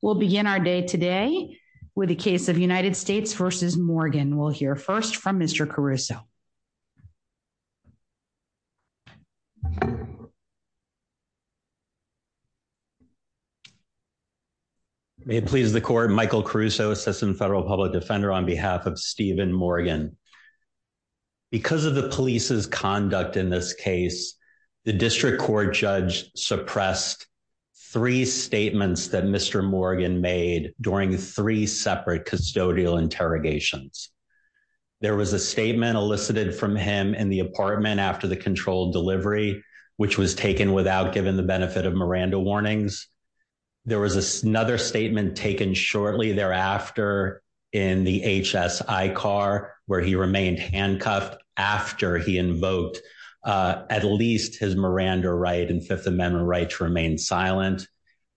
will begin our day today with a case of United States v. Morgan. We'll hear first from Mr. Caruso. May it please the court, Michael Caruso, Assistant Federal Public Defender, on behalf of Steven Morgan. Because of the police's conduct in this case, the district court judge suppressed three statements that Mr. Morgan made during three separate custodial interrogations. There was a statement elicited from him in the apartment after the controlled delivery, which was taken without giving the benefit of Miranda warnings. There was another statement taken shortly thereafter in the HSI car, where he remained handcuffed after he invoked at least his and Fifth Amendment rights remained silent.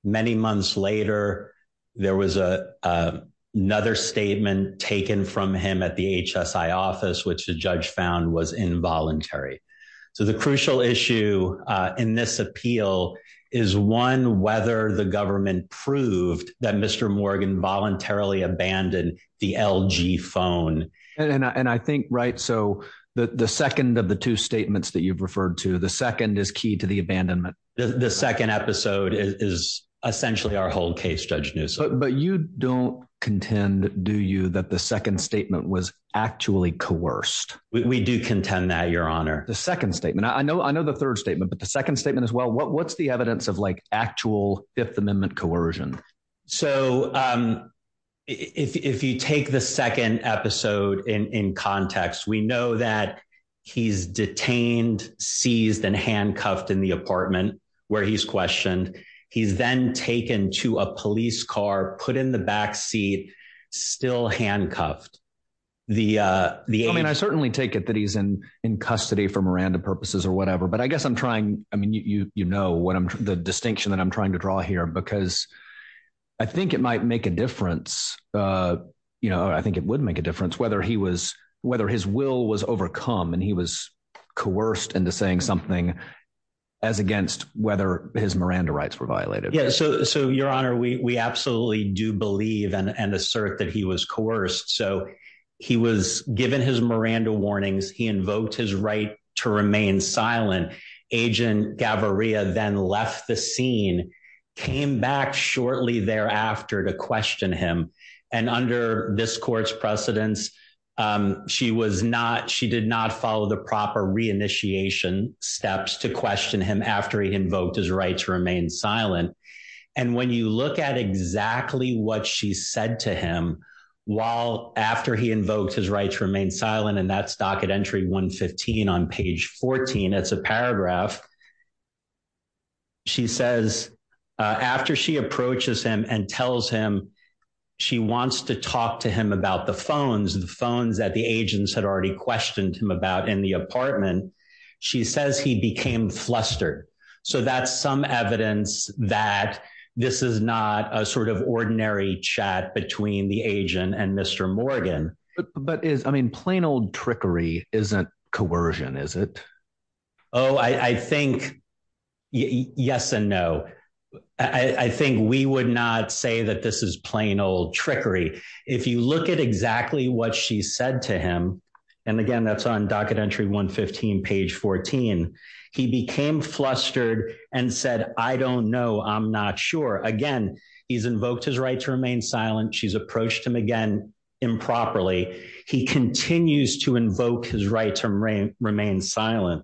Many months later, there was another statement taken from him at the HSI office, which the judge found was involuntary. So the crucial issue in this appeal is one, whether the government proved that Mr. Morgan voluntarily abandoned the LG phone. And I think, right, so the second of the two statements that you've referred to, the second is key to the abandonment. The second episode is essentially our whole case, Judge Newsom. But you don't contend, do you, that the second statement was actually coerced? We do contend that, Your Honor. The second statement, I know the third statement, but the second statement as well, what's the evidence of actual Fifth Amendment coercion? So if you take the second episode in context, we know that he's detained, seized, and handcuffed in the apartment where he's questioned. He's then taken to a police car, put in the backseat, still handcuffed. I mean, I certainly take it that he's in custody for Miranda purposes or whatever, but I guess I'm trying, I mean, you know the distinction that I'm trying to draw here because I think it might make a difference, you know, I think it would make a difference whether he was, whether his will was overcome and he was coerced into saying something as against whether his Miranda rights were violated. Yeah, so Your Honor, we absolutely do believe and assert that he was coerced. So he was given his Miranda warnings. He invoked his to remain silent. Agent Gaviria then left the scene, came back shortly thereafter to question him. And under this court's precedence, she was not, she did not follow the proper reinitiation steps to question him after he invoked his right to remain silent. And when you look at exactly what she said to him, while after he invoked his right to remain silent, and that's docket entry 115 on page 14, it's a paragraph, she says after she approaches him and tells him she wants to talk to him about the phones, the phones that the agents had already questioned him about in the apartment, she says he became flustered. So that's some evidence that this is not a sort of ordinary chat between the agent and Mr. Morgan. But is I mean, plain old trickery isn't coercion, is it? Oh, I think yes and no. I think we would not say that this is plain old trickery. If you look at exactly what she said to him. And again, that's on docket entry 115 page 14. He became flustered and said, I don't know, I'm not sure. Again, he's invoked his right to remain silent. She's approached him again, improperly. He continues to invoke his right to remain silent.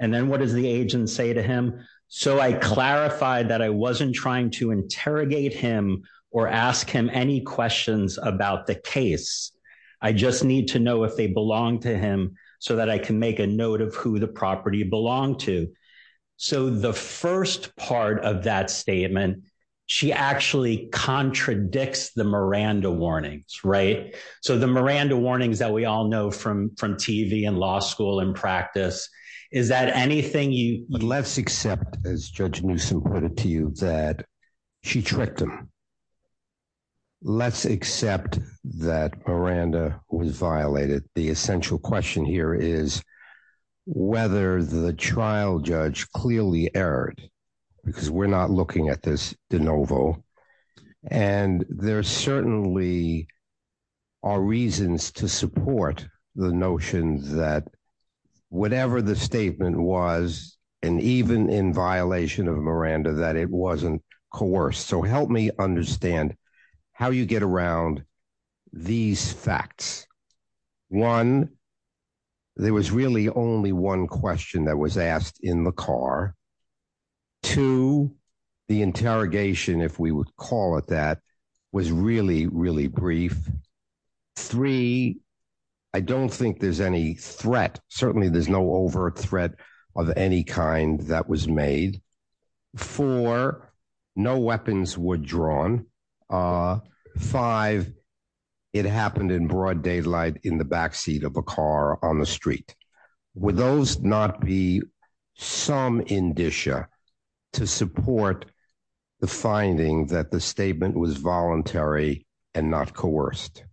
And then what does the agent say to him? So I clarified that I wasn't trying to interrogate him or ask him any questions about the case. I just need to know if they belong to him so that I can a note of who the property belonged to. So the first part of that statement, she actually contradicts the Miranda warnings. Right. So the Miranda warnings that we all know from TV and law school and practice, is that anything you would let's accept, as Judge Newsome pointed to you, that she tricked him. Let's accept that Miranda was violated. The essential question here is whether the trial judge clearly erred, because we're not looking at this de novo. And there certainly are reasons to support the notion that whatever the statement was, and even in violation of Miranda, that it wasn't coerced. So help me understand how you get around these facts. One, there was really only one question that was asked in the car. Two, the interrogation, if we would call it that, was really, really brief. Three, I don't think there's any threat. Certainly there's no overt threat of any kind that was made. Four, no weapons were drawn. Five, it happened in broad daylight in the backseat of a car on the street. Would those not be some indicia to support the finding that the statement was voluntary and not coerced?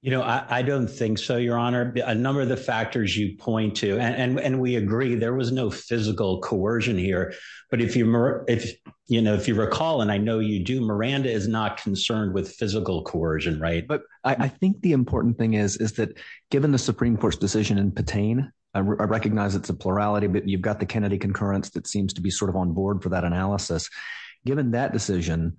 You know, I don't think so, Your Honor. A number of the factors you point to, and we agree there was no physical coercion here. But if you recall, and I know you do, Miranda is not concerned with physical coercion, right? But I think the important thing is that given the Supreme Court's decision in Patain, I recognize it's a plurality, but you've got the Kennedy concurrence that seems to be sort of on board for that analysis. Given that decision,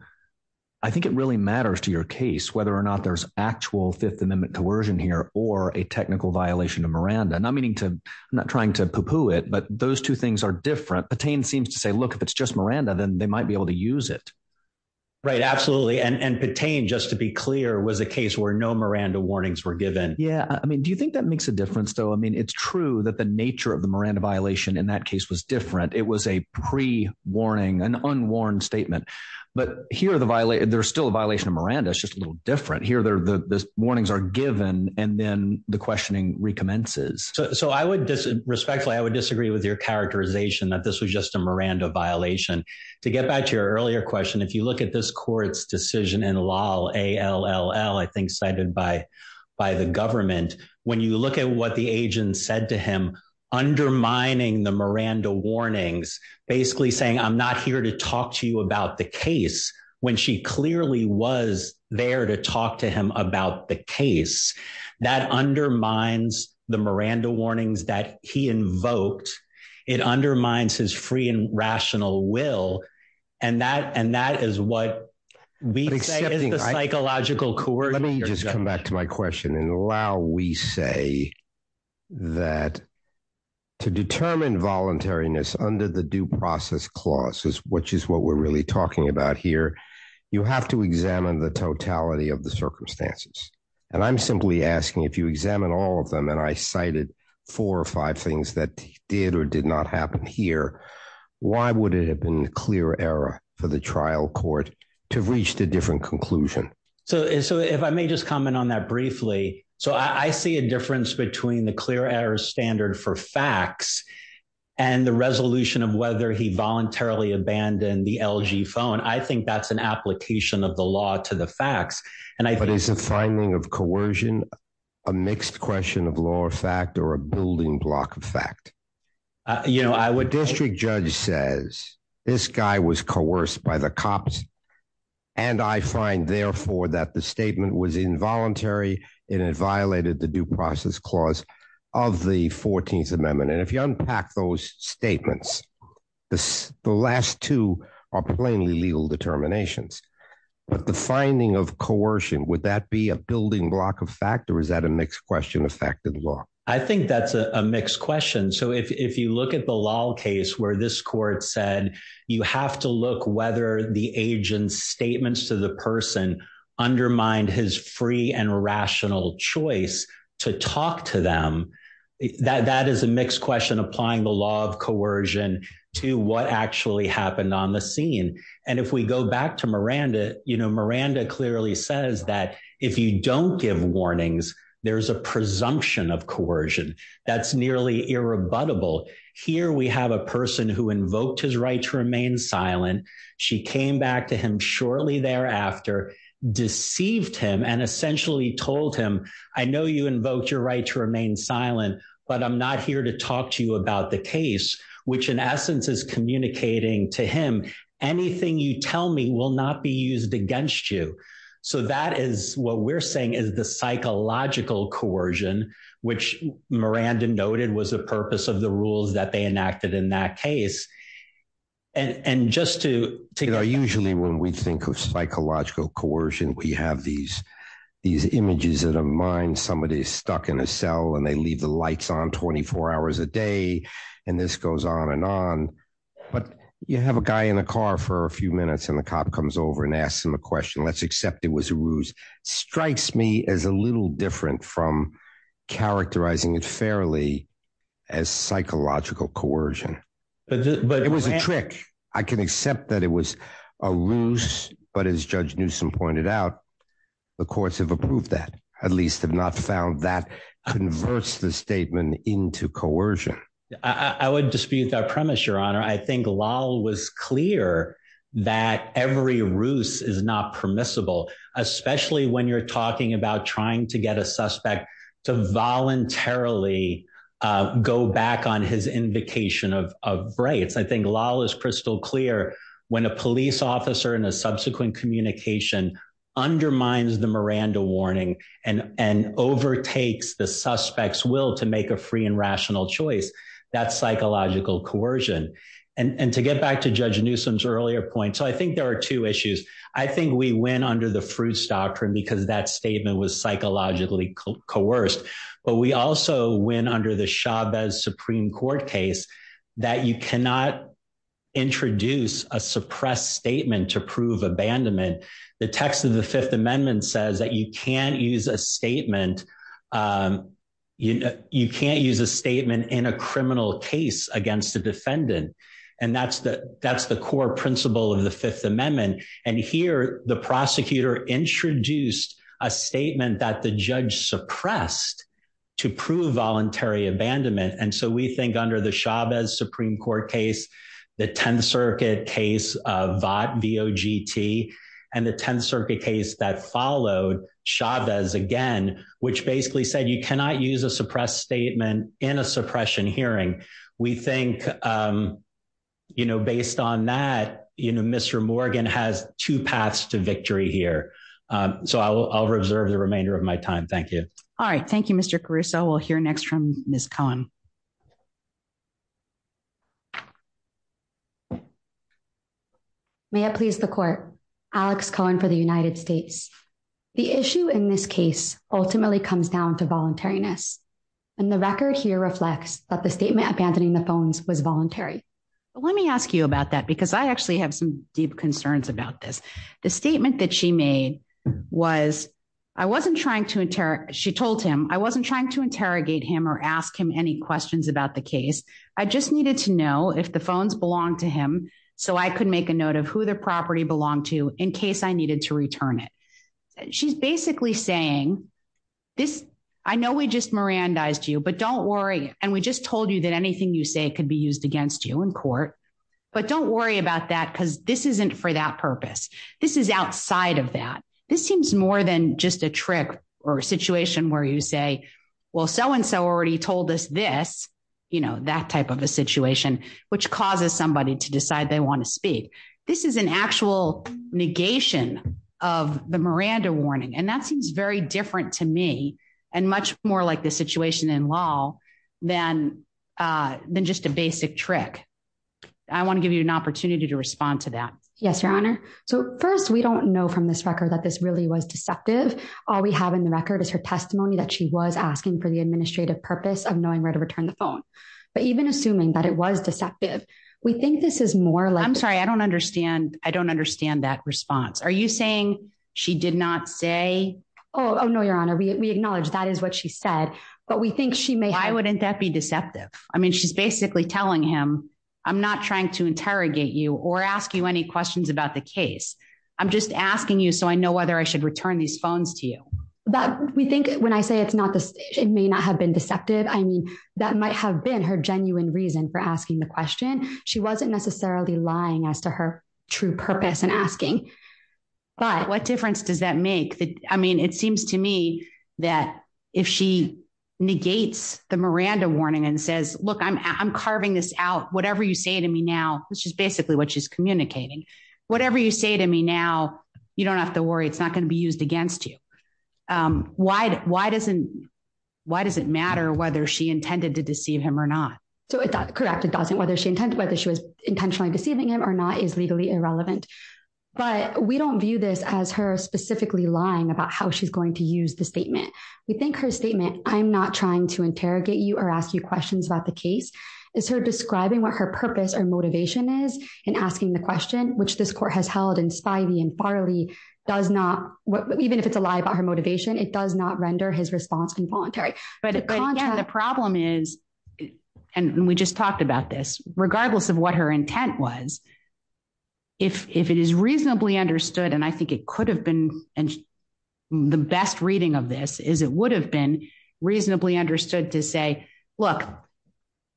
I think it really matters to your case whether or not there's actual Fifth Amendment coercion here or a technical violation of Miranda. I'm not trying to pooh-pooh it, but those two things are different. Patain seems to say, look, if it's just Miranda, then they might be able to use it. Right, absolutely. And Patain, just to be clear, was a case where no Miranda warnings were given. Yeah. I mean, do you think that makes a difference, though? I mean, it's true that the nature of the Miranda violation in that case was different. It was a pre-warning, an unwarned statement. But here, there's still a violation of Miranda. It's just a little different. Here, the warnings are given, and then the questioning recommences. So respectfully, I would disagree with your characterization that this was just a Miranda violation. To get back to your earlier question, if you look at this court's decision in Lal, A-L-L-L, I think cited by the government, when you look at what the agent said to him, undermining the Miranda warnings, basically saying, I'm not here to talk to you about the case, when she clearly was there to talk to him about the case, that undermines the Miranda warnings that he invoked. It undermines his free and rational will. And that is what we say is the psychological core. Let me just come back to my question. In Lal, we say that to determine voluntariness under the due process clause, which is what we're really talking about here, you have to examine the totality of the circumstances. And I'm simply asking, if you examine all of them, and I cited four or five things that did or did not happen here, why would it have been a clear error for the trial court to reach the different conclusion? So if I may just comment on that briefly, so I see a difference between the clear error standard for facts and the resolution of whether he voluntarily abandoned the LG phone. I think that's an application of the law to the facts. But is the finding of coercion, a mixed question of law or fact or a building block of fact? You know, I would district judge says, this guy was coerced by the cops. And I find therefore that the statement was involuntary, and it violated the due process clause of the 14th amendment. And if you unpack those statements, the last two are plainly legal determinations. But the finding of coercion, would that be a building block of factor? Is that a mixed question of fact and law? I think that's a mixed question. So if you look at the law case where this court said, you have to look whether the agent's statements to the person undermined his free and rational choice to talk to them. That is a mixed question applying the law of coercion to what actually happened on the scene. And if we go back to Miranda, you know, Miranda clearly says that if you don't give warnings, there's a presumption of coercion. That's nearly irrebuttable. Here we have a person who invoked his right to remain silent. She came back to him shortly thereafter, deceived him and essentially told him, I know you invoked your right to remain silent, but I'm not here to talk to you about the case, which in essence is communicating to him, anything you tell me will not be used against you. So that is what we're saying is the psychological coercion, which Miranda noted was a purpose of the rules that they enacted in that case. And just to, you know, usually when we think of psychological coercion, we have these, these images in our mind, somebody stuck in a cell and they leave the lights on 24 hours a day. And this goes on and on. But you have a guy in the car for a few minutes and the cop comes over and asks him a question. Let's accept it was a ruse. Strikes me as a little different from characterizing it fairly as psychological coercion. But it was a trick. I can accept that it was a ruse, but as Judge Newsom pointed out, the courts have approved that, at least have not found that converts the statement into coercion. I would dispute that premise, Your Honor. I think Lal was clear that every ruse is not permissible, especially when you're talking about trying to get a suspect to voluntarily go back on his invocation of braids. I think Lal is crystal clear when a police officer and a subsequent communication undermines the Miranda warning and overtakes the suspect's will to make a free and rational choice. That's psychological coercion. And to get back to Judge Newsom's earlier point, so I think there are two issues. I think we win under the Fruits Doctrine because that statement was psychologically coerced, but we also win under the Chavez Supreme Court case that you cannot introduce a suppressed statement to prove abandonment. The text of the Fifth Amendment says that you can't use a statement in a criminal case against a defendant. And that's the core principle of the Fifth Amendment. And here, the prosecutor introduced a statement that the judge suppressed to prove voluntary abandonment. And so we think under the Chavez Supreme Court case, the Tenth Circuit case of VOT, V-O-G-T, and the Tenth Circuit case that followed, Chavez again, which basically said you cannot use a suppressed statement in a suppression hearing. We think, you know, based on that, you know, Mr. Morgan has two paths to victory here. So I'll reserve the remainder of my time. Thank you. All right. Thank you, Mr. Caruso. We'll hear next from Ms. Cohen. May it please the Court. Alex Cohen for the United States. The issue in this case ultimately comes down to voluntariness, and the record here reflects that the statement abandoning the phones was voluntary. Let me ask you about that because I actually have some deep concerns about this. The statement that she made was, she told him, I wasn't trying to interrogate him or ask him any questions about the case. I just needed to know if the phones belonged to him so I could make a note of who the property belonged to in case I needed to return it. She's basically saying, I know we just Mirandized you, but don't worry. And we just told you that anything you say could be used against you in court. But don't worry about that because this isn't for that purpose. This is outside of that. This seems more than just a trick or a situation where you say, well, so-and-so already told us this, that type of a situation, which causes somebody to decide they want to speak. This is an actual negation of the Miranda warning, and that seems very different to me and much more like the situation in law than just a basic trick. I want to give you an opportunity to respond to that. Yes, Your Honor. So first, we don't know from this record that this really was deceptive. All we have in the record is her testimony that she was asking for the administrative purpose of knowing where to return the phone. But even assuming that it was deceptive, we think this is more like- I'm sorry, I don't understand. I don't understand that response. Are you saying she did not say- Oh, no, Your Honor. We acknowledge that is what she said, but we think she may have- Why wouldn't that be deceptive? She's basically telling him, I'm not trying to interrogate you or ask you any questions about the case. I'm just asking you so I know whether I should return these phones to you. We think when I say it's not deceptive, it may not have been deceptive. I mean, that might have been her genuine reason for asking the question. She wasn't necessarily lying as to her true purpose in asking, but- What difference does that make? I mean, it seems to me that if she negates the Miranda warning and says, look, I'm carving this out, whatever you say to me now, which is basically what she's communicating, whatever you say to me now, you don't have to worry. It's not going to be used against you. Why does it matter whether she intended to deceive him or not? Correct, it doesn't. Whether she was intentionally deceiving him or not is legally irrelevant, but we don't view this as her specifically lying about how she's going to use the statement. We think her statement, I'm not trying to interrogate you or ask you questions about the case, is her describing what her purpose or motivation is in asking the question, which this court has held in Spivey and Farley does not, even if it's a lie about her motivation, it does not render his response involuntary. But again, the problem is, and we just talked about this, regardless of what her intent was, if it is reasonably understood, and I think it could have been, and the best reading of this is it would have been reasonably understood to say, look,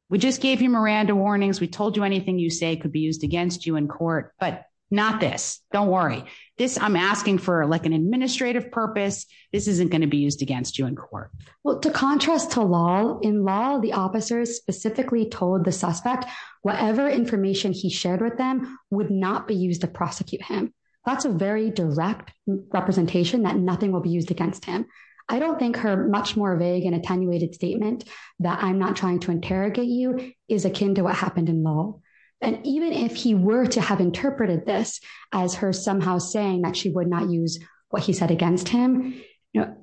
we just gave you Miranda warnings. We told you anything you say could be used against you in court, but not this. Don't worry. This, I'm asking for like an administrative purpose. This isn't going to be used against you in court. Well, to contrast to law, in law, the officers specifically told the suspect whatever information he shared with them would not be used to prosecute him. That's a very direct representation that nothing will be used against him. I don't think her much more vague and attenuated statement that I'm not trying to interrogate you is akin to what happened in law. And even if he were to have interpreted this as her somehow saying that she would not use what he said against him, you know,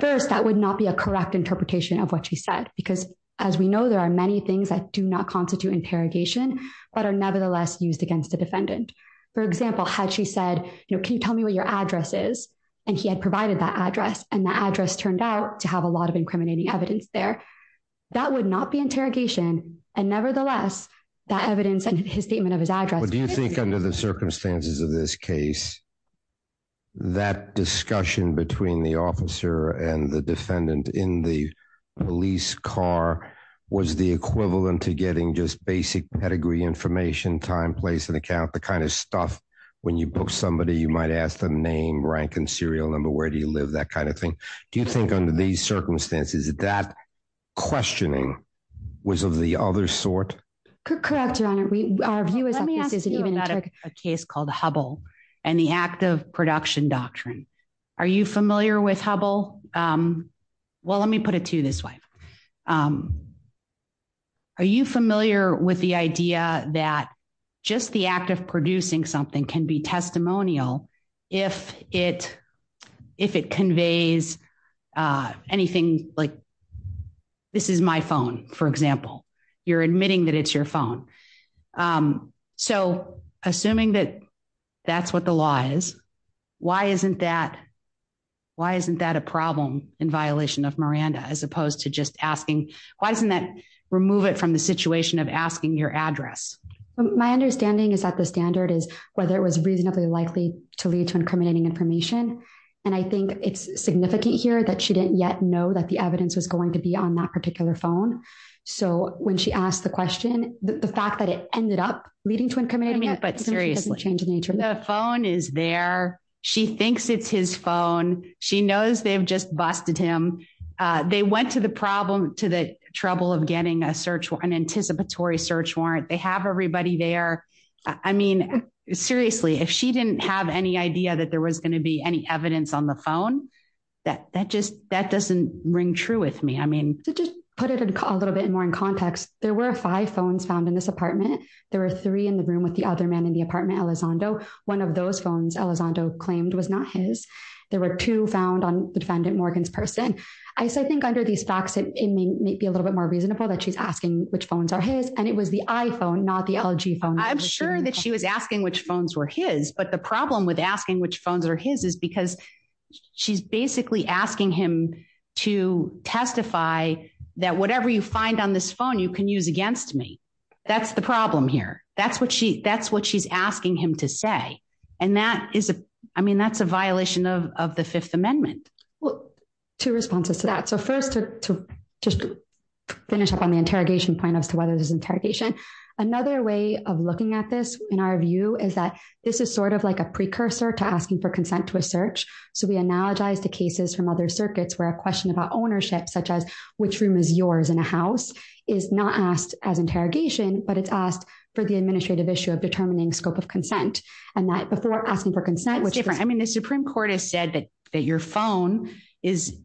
first, that would not be a correct interpretation of what she said, because as we know, there are many things that do not constitute interrogation, but are nevertheless used against the defendant. For example, had she said, you know, can you tell me what your address is? And he had provided that address and the address turned out to have a lot of incriminating evidence there. That would not be interrogation. And nevertheless, that evidence and his statement of his address. Do you think under the circumstances of this case, that discussion between the officer and the defendant in the police car was the equivalent to getting just basic pedigree information, time, place and account, the kind of stuff when you book somebody, you might ask the name, rank and serial number, where do you live, that kind of thing. Do you think under these circumstances that questioning was of the other sort? Correct, Your Honor, our view is that this isn't even a case called the Hubble and the act of production doctrine. Are you familiar with Hubble? Well, let me put it to you this way. Are you familiar with the idea that just the act of producing something can be testimonial if it if it conveys anything like this is my phone, for example, you're admitting that it's your phone. So assuming that that's what the law is, why isn't that why isn't that a problem in violation of Miranda as opposed to just asking? Why doesn't that remove it from the situation of asking your address? My understanding is that the standard is whether it was reasonably likely to lead to incriminating information. And I think it's significant here that she didn't yet know that the evidence was going to be on that particular phone. So when she asked the question, the fact that it ended up leading to incriminating, but seriously, change in nature, the phone is there. She thinks it's his phone. She knows they've just busted him. They went to the problem to the trouble of getting a search and anticipatory search warrant. They have everybody there. I mean, seriously, if she didn't have any idea that there was going to be any evidence on the phone that that just that doesn't ring true with me. I mean, to just put it a little bit more in context, there were five phones found in this apartment. There were three in the room with the other man in the apartment. Elizondo, one of those phones Elizondo claimed was not his. There were two found on the defendant Morgan's person. I think under these facts, it may be a little bit more reasonable that she's asking which phones are his. And it was the iPhone, not the LG phone. I'm sure that she was asking which phones were his. But the problem with asking which phones are his is because she's basically asking him to testify that whatever you find on this phone, you can use against me. That's the problem here. That's what she that's what she's asking him to say. And that is a I mean, that's a violation of the Fifth Amendment. Well, two responses to that. So first to just finish up on the interrogation point as to whether there's interrogation. Another way of looking at this, in our view, is that this is sort of like a precursor to asking for consent to a search. So we analogize the cases from other circuits where a question about ownership, such as which room is yours in a house, is not asked as interrogation, but it's asked for the administrative issue of determining scope of consent. And that before asking for consent, which I mean, the Supreme Court has said that your phone is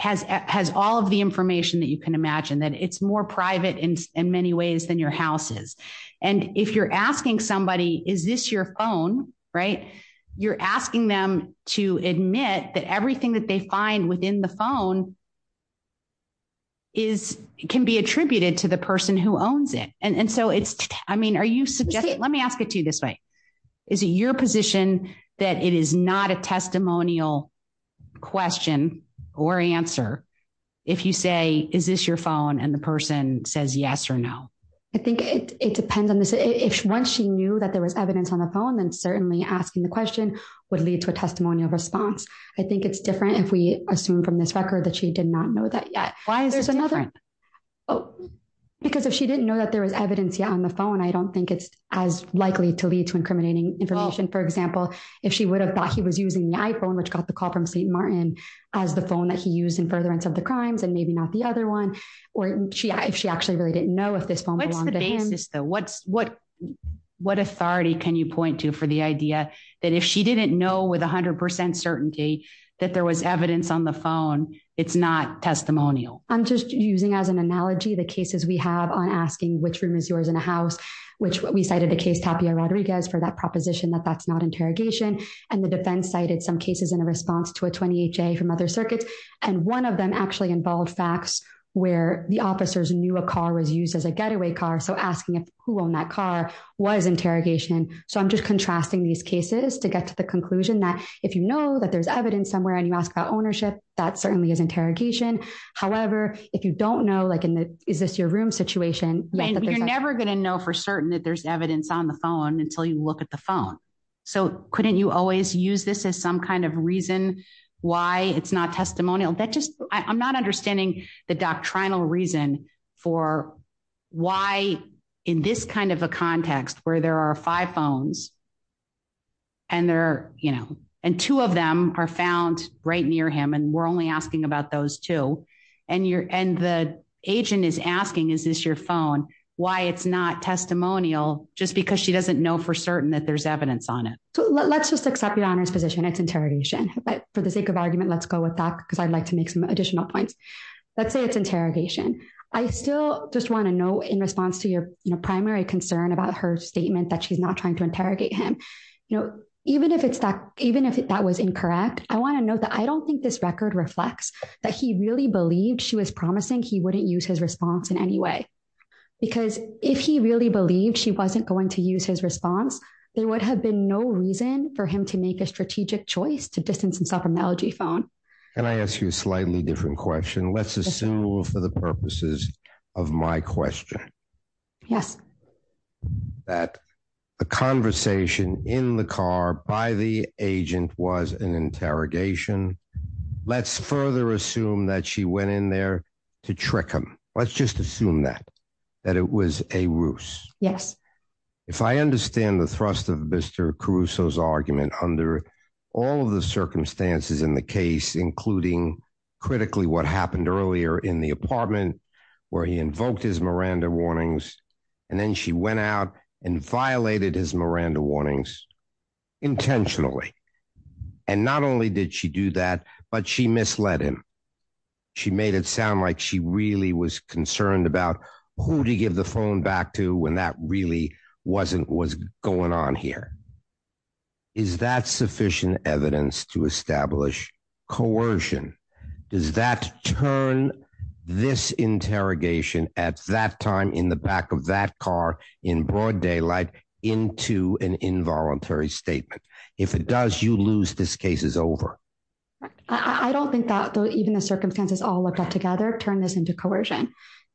has has all of the information that you can imagine that it's more private in many ways than your house is. And if you're asking somebody, is this your phone? Right. You're asking them to admit that everything that they find within the phone. Is it can be attributed to the person who owns it. And so it's I mean, are you suggesting let me ask it to you this way. Is it your position that it is not a testimonial question or answer if you say, is this your phone and the person says yes or no? I think it depends on this. If once she knew that there was evidence on the phone, then certainly asking the question would lead to a testimonial response. I think it's different if we assume from this record that she did not know that yet. Why is there's another? Oh, because if she didn't know that there was evidence on the phone, I don't think it's as likely to lead to incriminating information, for example, if she would have thought he was using the iPhone, which got the call from St. Martin as the phone that he used in furtherance of the crimes and maybe not the other one, or if she actually really didn't know if this phone. What's the basis, though? What's what what authority can you point to for the idea that if she didn't know with 100 percent certainty that there was evidence on the phone, it's not testimonial? I'm just using as an analogy the cases we have on asking which room is yours in a house, which we cited the case Tapia Rodriguez for that proposition that that's not interrogation. And the defense cited some cases in a response to a 28 day from other circuits. And one of them actually involved facts where the officers knew a car was used as a getaway car. So asking who owned that car was interrogation. So I'm just contrasting these cases to get to the conclusion that if you know that there's evidence somewhere and you ask about ownership, that certainly is interrogation. However, if you don't know, like, is this your room situation? You're never going to know for certain that there's evidence on the phone until you look at the phone. So couldn't you always use this as some kind of reason why it's not testimonial? That just I'm not understanding the doctrinal reason for why in this kind of a context where there are five phones. And there are, you know, and two of them are found right near him, and we're only asking about those two. And you're and the agent is asking, is this your phone? Why it's not testimonial, just because she doesn't know for certain that there's evidence on it. So let's just accept your honor's position. It's interrogation. But for the sake of argument, let's go with that, because I'd like to make some additional points. Let's say it's interrogation. I still just want to know in response to your primary concern about her statement that she's not trying to interrogate him. You know, even if it's that even if that was incorrect, I want to I don't think this record reflects that he really believed she was promising he wouldn't use his response in any way. Because if he really believed she wasn't going to use his response, there would have been no reason for him to make a strategic choice to distance himself from the LG phone. Can I ask you a slightly different question? Let's assume for the purposes of my question. Yes. That a conversation in the car by the agent was an interrogation. Let's further assume that she went in there to trick him. Let's just assume that that it was a ruse. Yes. If I understand the thrust of Mr. Caruso's argument under all of the circumstances in the case, including critically what happened earlier in the apartment where he invoked his Miranda warnings, and then she went out and violated his Miranda warnings intentionally. And not only did she do that, but she misled him. She made it sound like she really was concerned about who to give the phone back to when that really wasn't what's going on here. Is that sufficient evidence to establish coercion? Does that turn this interrogation at that time in the back of that car in broad daylight into an involuntary statement? If it does, you lose. This case is over. I don't think that even the circumstances all looked up together turned this into coercion.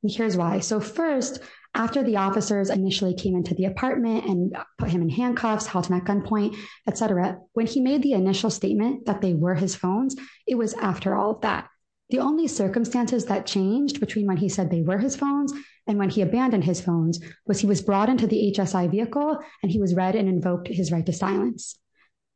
And here's why. So first, after the officers initially came into the apartment and put him in handcuffs, held him at gunpoint, etc. When he made the initial statement that they were his phones, it was after all of that. The only circumstances that changed between when he said they were his phones and when he abandoned his phones was he was brought into the HSI vehicle, and he was read and invoked his right to silence.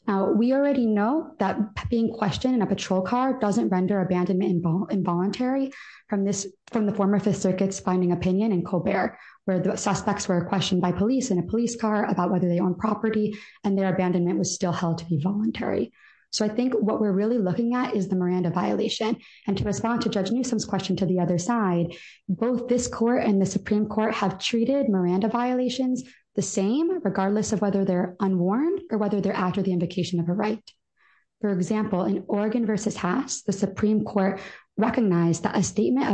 Now, we already know that being questioned in a patrol car doesn't render abandonment involuntary from the former Fifth Circuit's finding opinion in Colbert, where the suspects were questioned by police in a police car about whether they own property and their abandonment was still held to be voluntary. So I think what we're really looking at is the Miranda violation. And to respond to Judge Newsom's question to the other side, both this court and the Supreme Court have treated Miranda violations the same, regardless of whether they're unwarned or whether they're after the invocation of a right. For example, in Oregon v. Haas, the Supreme Court recognized that a statement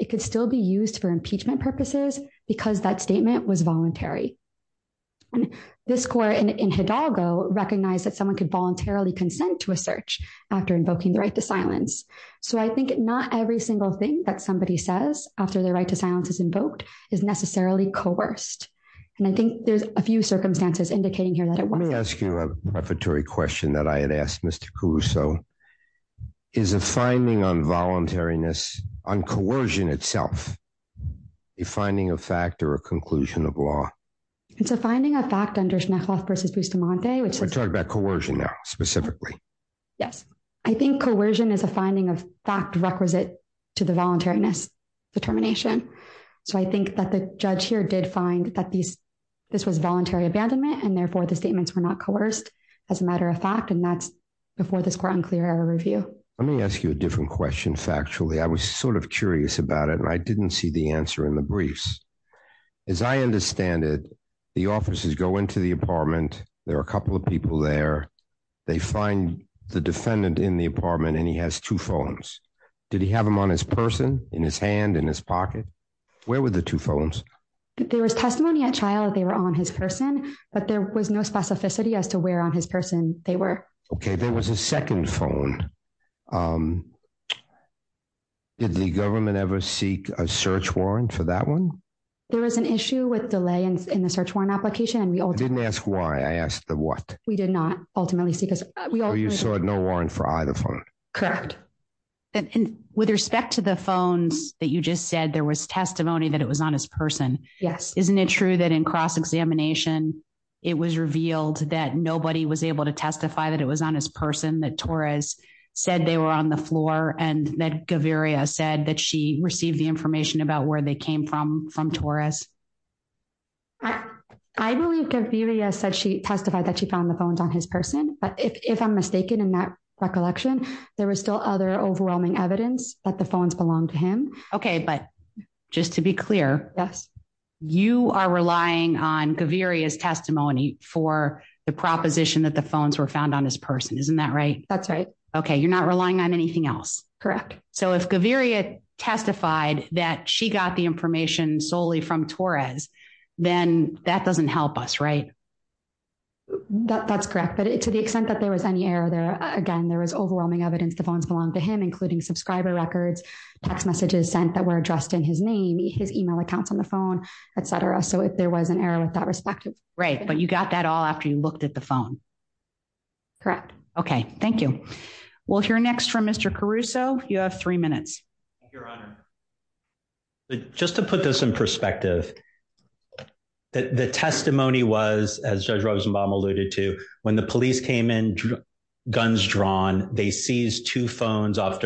it could still be used for impeachment purposes because that statement was voluntary. And this court in Hidalgo recognized that someone could voluntarily consent to a search after invoking the right to silence. So I think not every single thing that somebody says after their right to silence is invoked is necessarily coerced. And I think there's a few circumstances indicating here that it wasn't. Let me ask you a prefatory question that I had a finding of fact or a conclusion of law. It's a finding of fact under Schmechloff v. Bustamante. We're talking about coercion now, specifically. Yes. I think coercion is a finding of fact requisite to the voluntariness determination. So I think that the judge here did find that this was voluntary abandonment, and therefore the statements were not coerced as a matter of fact, and that's before this court unclear error review. Let me ask you a different question factually. I was sort of curious about it, and I didn't see the answer in the briefs. As I understand it, the officers go into the apartment. There are a couple of people there. They find the defendant in the apartment, and he has two phones. Did he have them on his person, in his hand, in his pocket? Where were the two phones? There was testimony at trial that they were on his person, but there was no specificity as to where on his person they were. Okay, there was a second phone. Did the government ever seek a search warrant for that one? There was an issue with delay in the search warrant application, and we ultimately... I didn't ask why. I asked the what. We did not ultimately seek a... So you sought no warrant for either phone? Correct. And with respect to the phones that you just said, there was testimony that it was on his person. Yes. Isn't it true that in cross-examination, it was revealed that nobody was able to testify that it was on his person, that Torres said they were on the floor, and that Gaviria said that she received the information about where they came from from Torres? I believe Gaviria testified that she found the phones on his person, but if I'm mistaken in that recollection, there was still other overwhelming evidence that the phones belonged to him. Okay, but just to be clear, you are relying on Gaviria's for the proposition that the phones were found on his person. Isn't that right? That's right. Okay, you're not relying on anything else. Correct. So if Gaviria testified that she got the information solely from Torres, then that doesn't help us, right? That's correct, but to the extent that there was any error there, again, there was overwhelming evidence the phones belonged to him, including subscriber records, text messages sent that were addressed in his name, his email accounts on the phone, et cetera. So if there was an error with that perspective. Right, but you got that all after you looked at the phone. Correct. Okay, thank you. We'll hear next from Mr. Caruso. You have three minutes. Just to put this in perspective, the testimony was, as Judge Rosenbaum alluded to, when the police came in, guns drawn, they seized two phones off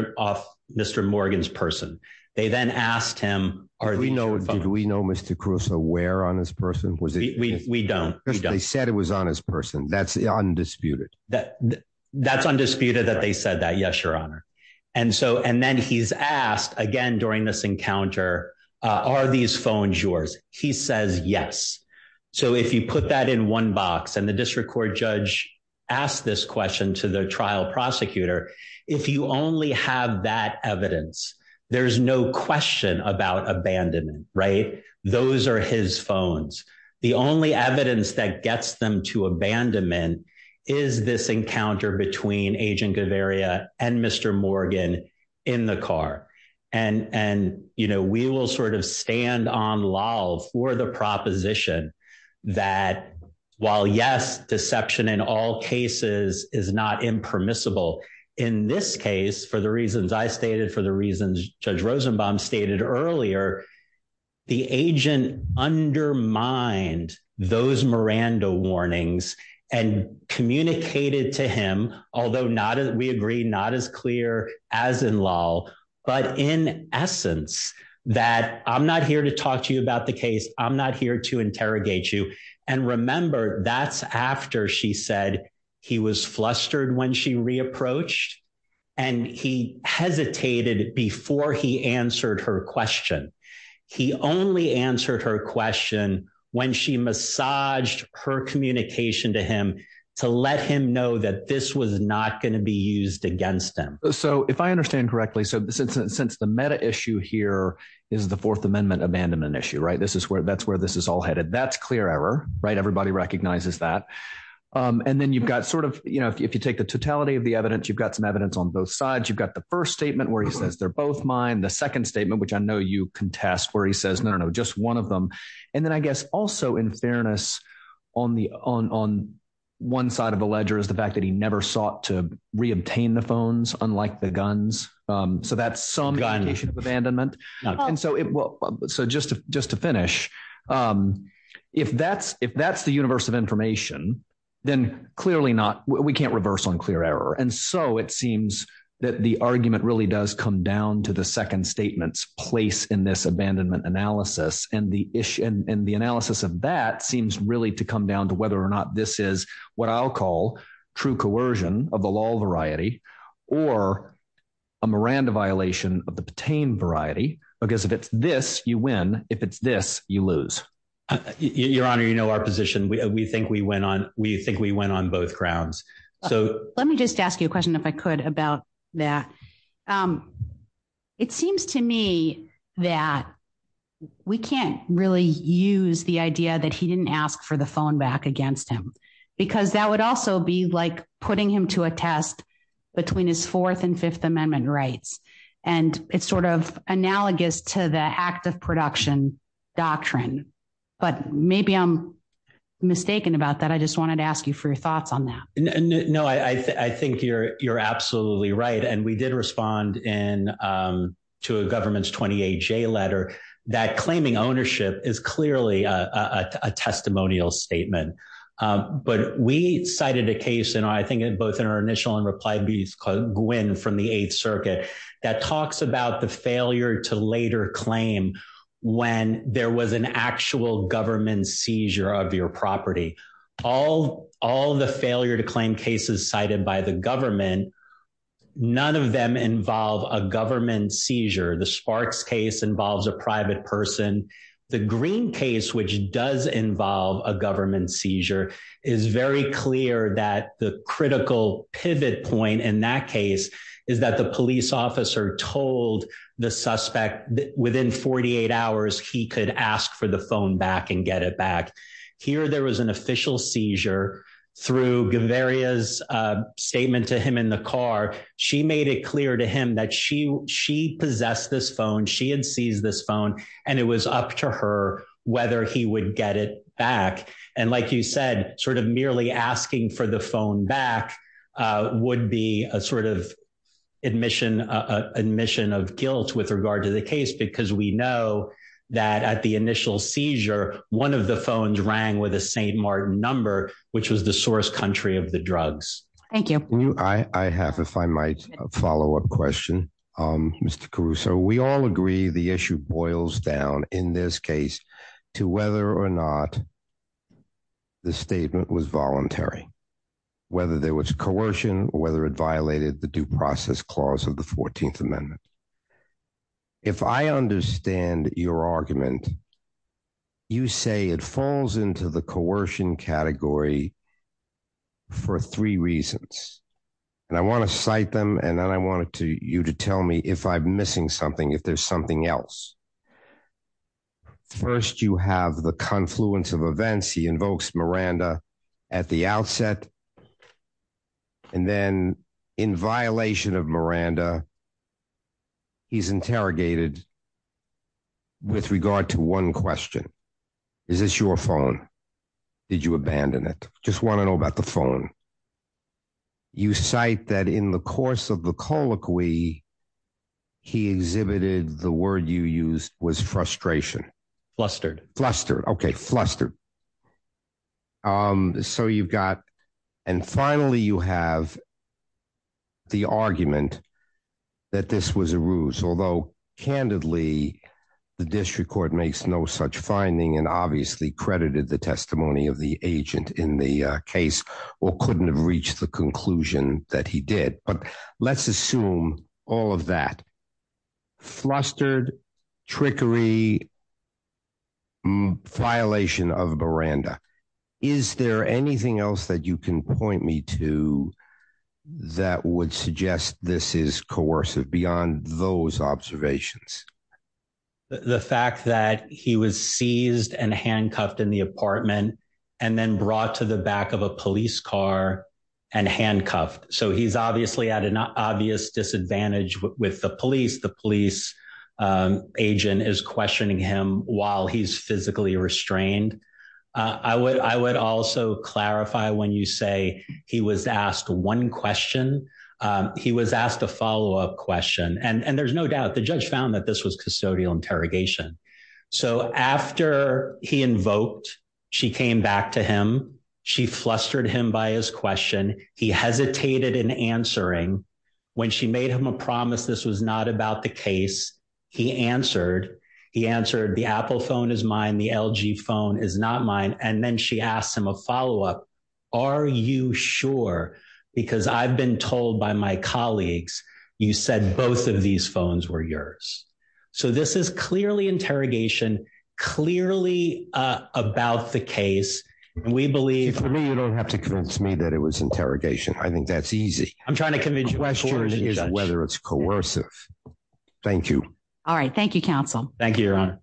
Mr. Morgan's person. They then asked him, did we know Mr. Caruso wear on his person? We don't. They said it was on his person. That's undisputed. That's undisputed that they said that. Yes, your honor. And then he's asked again during this encounter, are these phones yours? He says, yes. So if you put that in one box and the district court judge asked this question to the trial prosecutor, if you only have that evidence, there's no question about abandonment, right? Those are his phones. The only evidence that gets them to abandonment is this encounter between Agent Gaviria and Mr. Morgan in the car. And, you know, we will sort of stand on lull for the proposition that while yes, deception in all cases is not impermissible, in this case, for the reasons I stated, for the reasons Judge Rosenbaum stated earlier, the agent undermined those Miranda warnings and communicated to him, although we agree not as clear as in lull, but in essence, that I'm not here to talk to you about the case. I'm not here to interrogate you. And remember, that's after she said he was flustered when she re-approached and he hesitated before he answered her question. He only answered her question when she massaged her communication to him to let him know that this was not going to be used against him. So if I understand correctly, so since the meta issue here is the Fourth Amendment abandonment right? That's where this is all headed. That's clear error, right? Everybody recognizes that. And then you've got sort of, you know, if you take the totality of the evidence, you've got some evidence on both sides. You've got the first statement where he says, they're both mine. The second statement, which I know you contest where he says, no, no, just one of them. And then I guess also in fairness, on one side of the ledger is the fact that he never sought to reobtain the phones, unlike the guns. So that's some indication of to finish. If that's the universe of information, then clearly not, we can't reverse unclear error. And so it seems that the argument really does come down to the second statement's place in this abandonment analysis. And the analysis of that seems really to come down to whether or not this is what I'll call true coercion of the law variety or a Miranda violation of the pertain variety, because if it's this, you win, if it's this, you lose, your honor, you know, our position, we think we went on, we think we went on both grounds. So let me just ask you a question, if I could, about that. It seems to me that we can't really use the idea that he didn't ask for the phone back against him, because that would also be like putting him to a test between his Fourth and Fifth Amendment rights. And it's sort of analogous to the act of production doctrine. But maybe I'm mistaken about that. I just wanted to ask you for your thoughts on that. No, I think you're absolutely right. And we did respond in to a government's 28 J letter, that claiming ownership is clearly a testimonial statement. But we cited a case, and I think both in our initial and reply to these, Gwen from the Eighth Circuit, that talks about the failure to later claim when there was an actual government seizure of your property. All the failure to claim cases cited by the government, none of them involve a government seizure. The Sparks case involves a private person. The Green case, which does involve a government seizure, is very clear that the critical pivot point in that case is that the police officer told the suspect that within 48 hours he could ask for the phone back and get it back. Here there was an official seizure through Gaviria's statement to him in the car. She made it clear to him that she possessed this phone, she had seized this phone, and it was up to her whether he would get it back. And like you said, sort of merely asking for the phone back would be a sort of admission of guilt with regard to the case, because we know that at the initial seizure, one of the phones rang with a Saint Martin number, which was the source country of the drugs. Thank you. I have, if I might, a follow-up question, Mr. Caruso. We all agree the issue boils down, in this case, to whether or not the statement was voluntary, whether there was coercion, or whether it violated the due process clause of the 14th Amendment. If I understand your argument, you say it falls into the coercion category for three reasons, and I want to cite them, and then I want you to tell me if I'm missing something, if there's something else. First, you have the confluence of events. He invokes Miranda at the outset, and then in violation of Miranda, he's interrogated with regard to one question. Is this your phone? Did you abandon it? Just want to know about the phone. You cite that in the course of the colloquy, he exhibited, the word you used was frustration. Flustered. Okay, flustered. And finally, you have the argument that this was a ruse, although candidly, the district court makes no such finding, and obviously credited the reached the conclusion that he did. But let's assume all of that. Flustered, trickery, violation of Miranda. Is there anything else that you can point me to that would suggest this is coercive beyond those observations? The fact that he was seized and handcuffed in the apartment, and then brought to the back of a police car and handcuffed. So he's obviously at an obvious disadvantage with the police. The police agent is questioning him while he's physically restrained. I would also clarify when you say he was asked one question. He was asked a follow-up question, and there's no doubt the judge found that this was custodial interrogation. So after he invoked, she came back to him. She flustered him by his question. He hesitated in answering. When she made him a promise this was not about the case, he answered. He answered the Apple phone is mine. The LG phone is not mine. And then she asked him a follow-up. Are you sure? Because I've been told by my colleagues, you said both of these phones were yours. So this is clearly interrogation, clearly about the case. For me, you don't have to convince me that it was interrogation. I think that's easy. I'm trying to convince you. Whether it's coercive. Thank you. All right. Thank you, counsel. Thank you, Your Honor.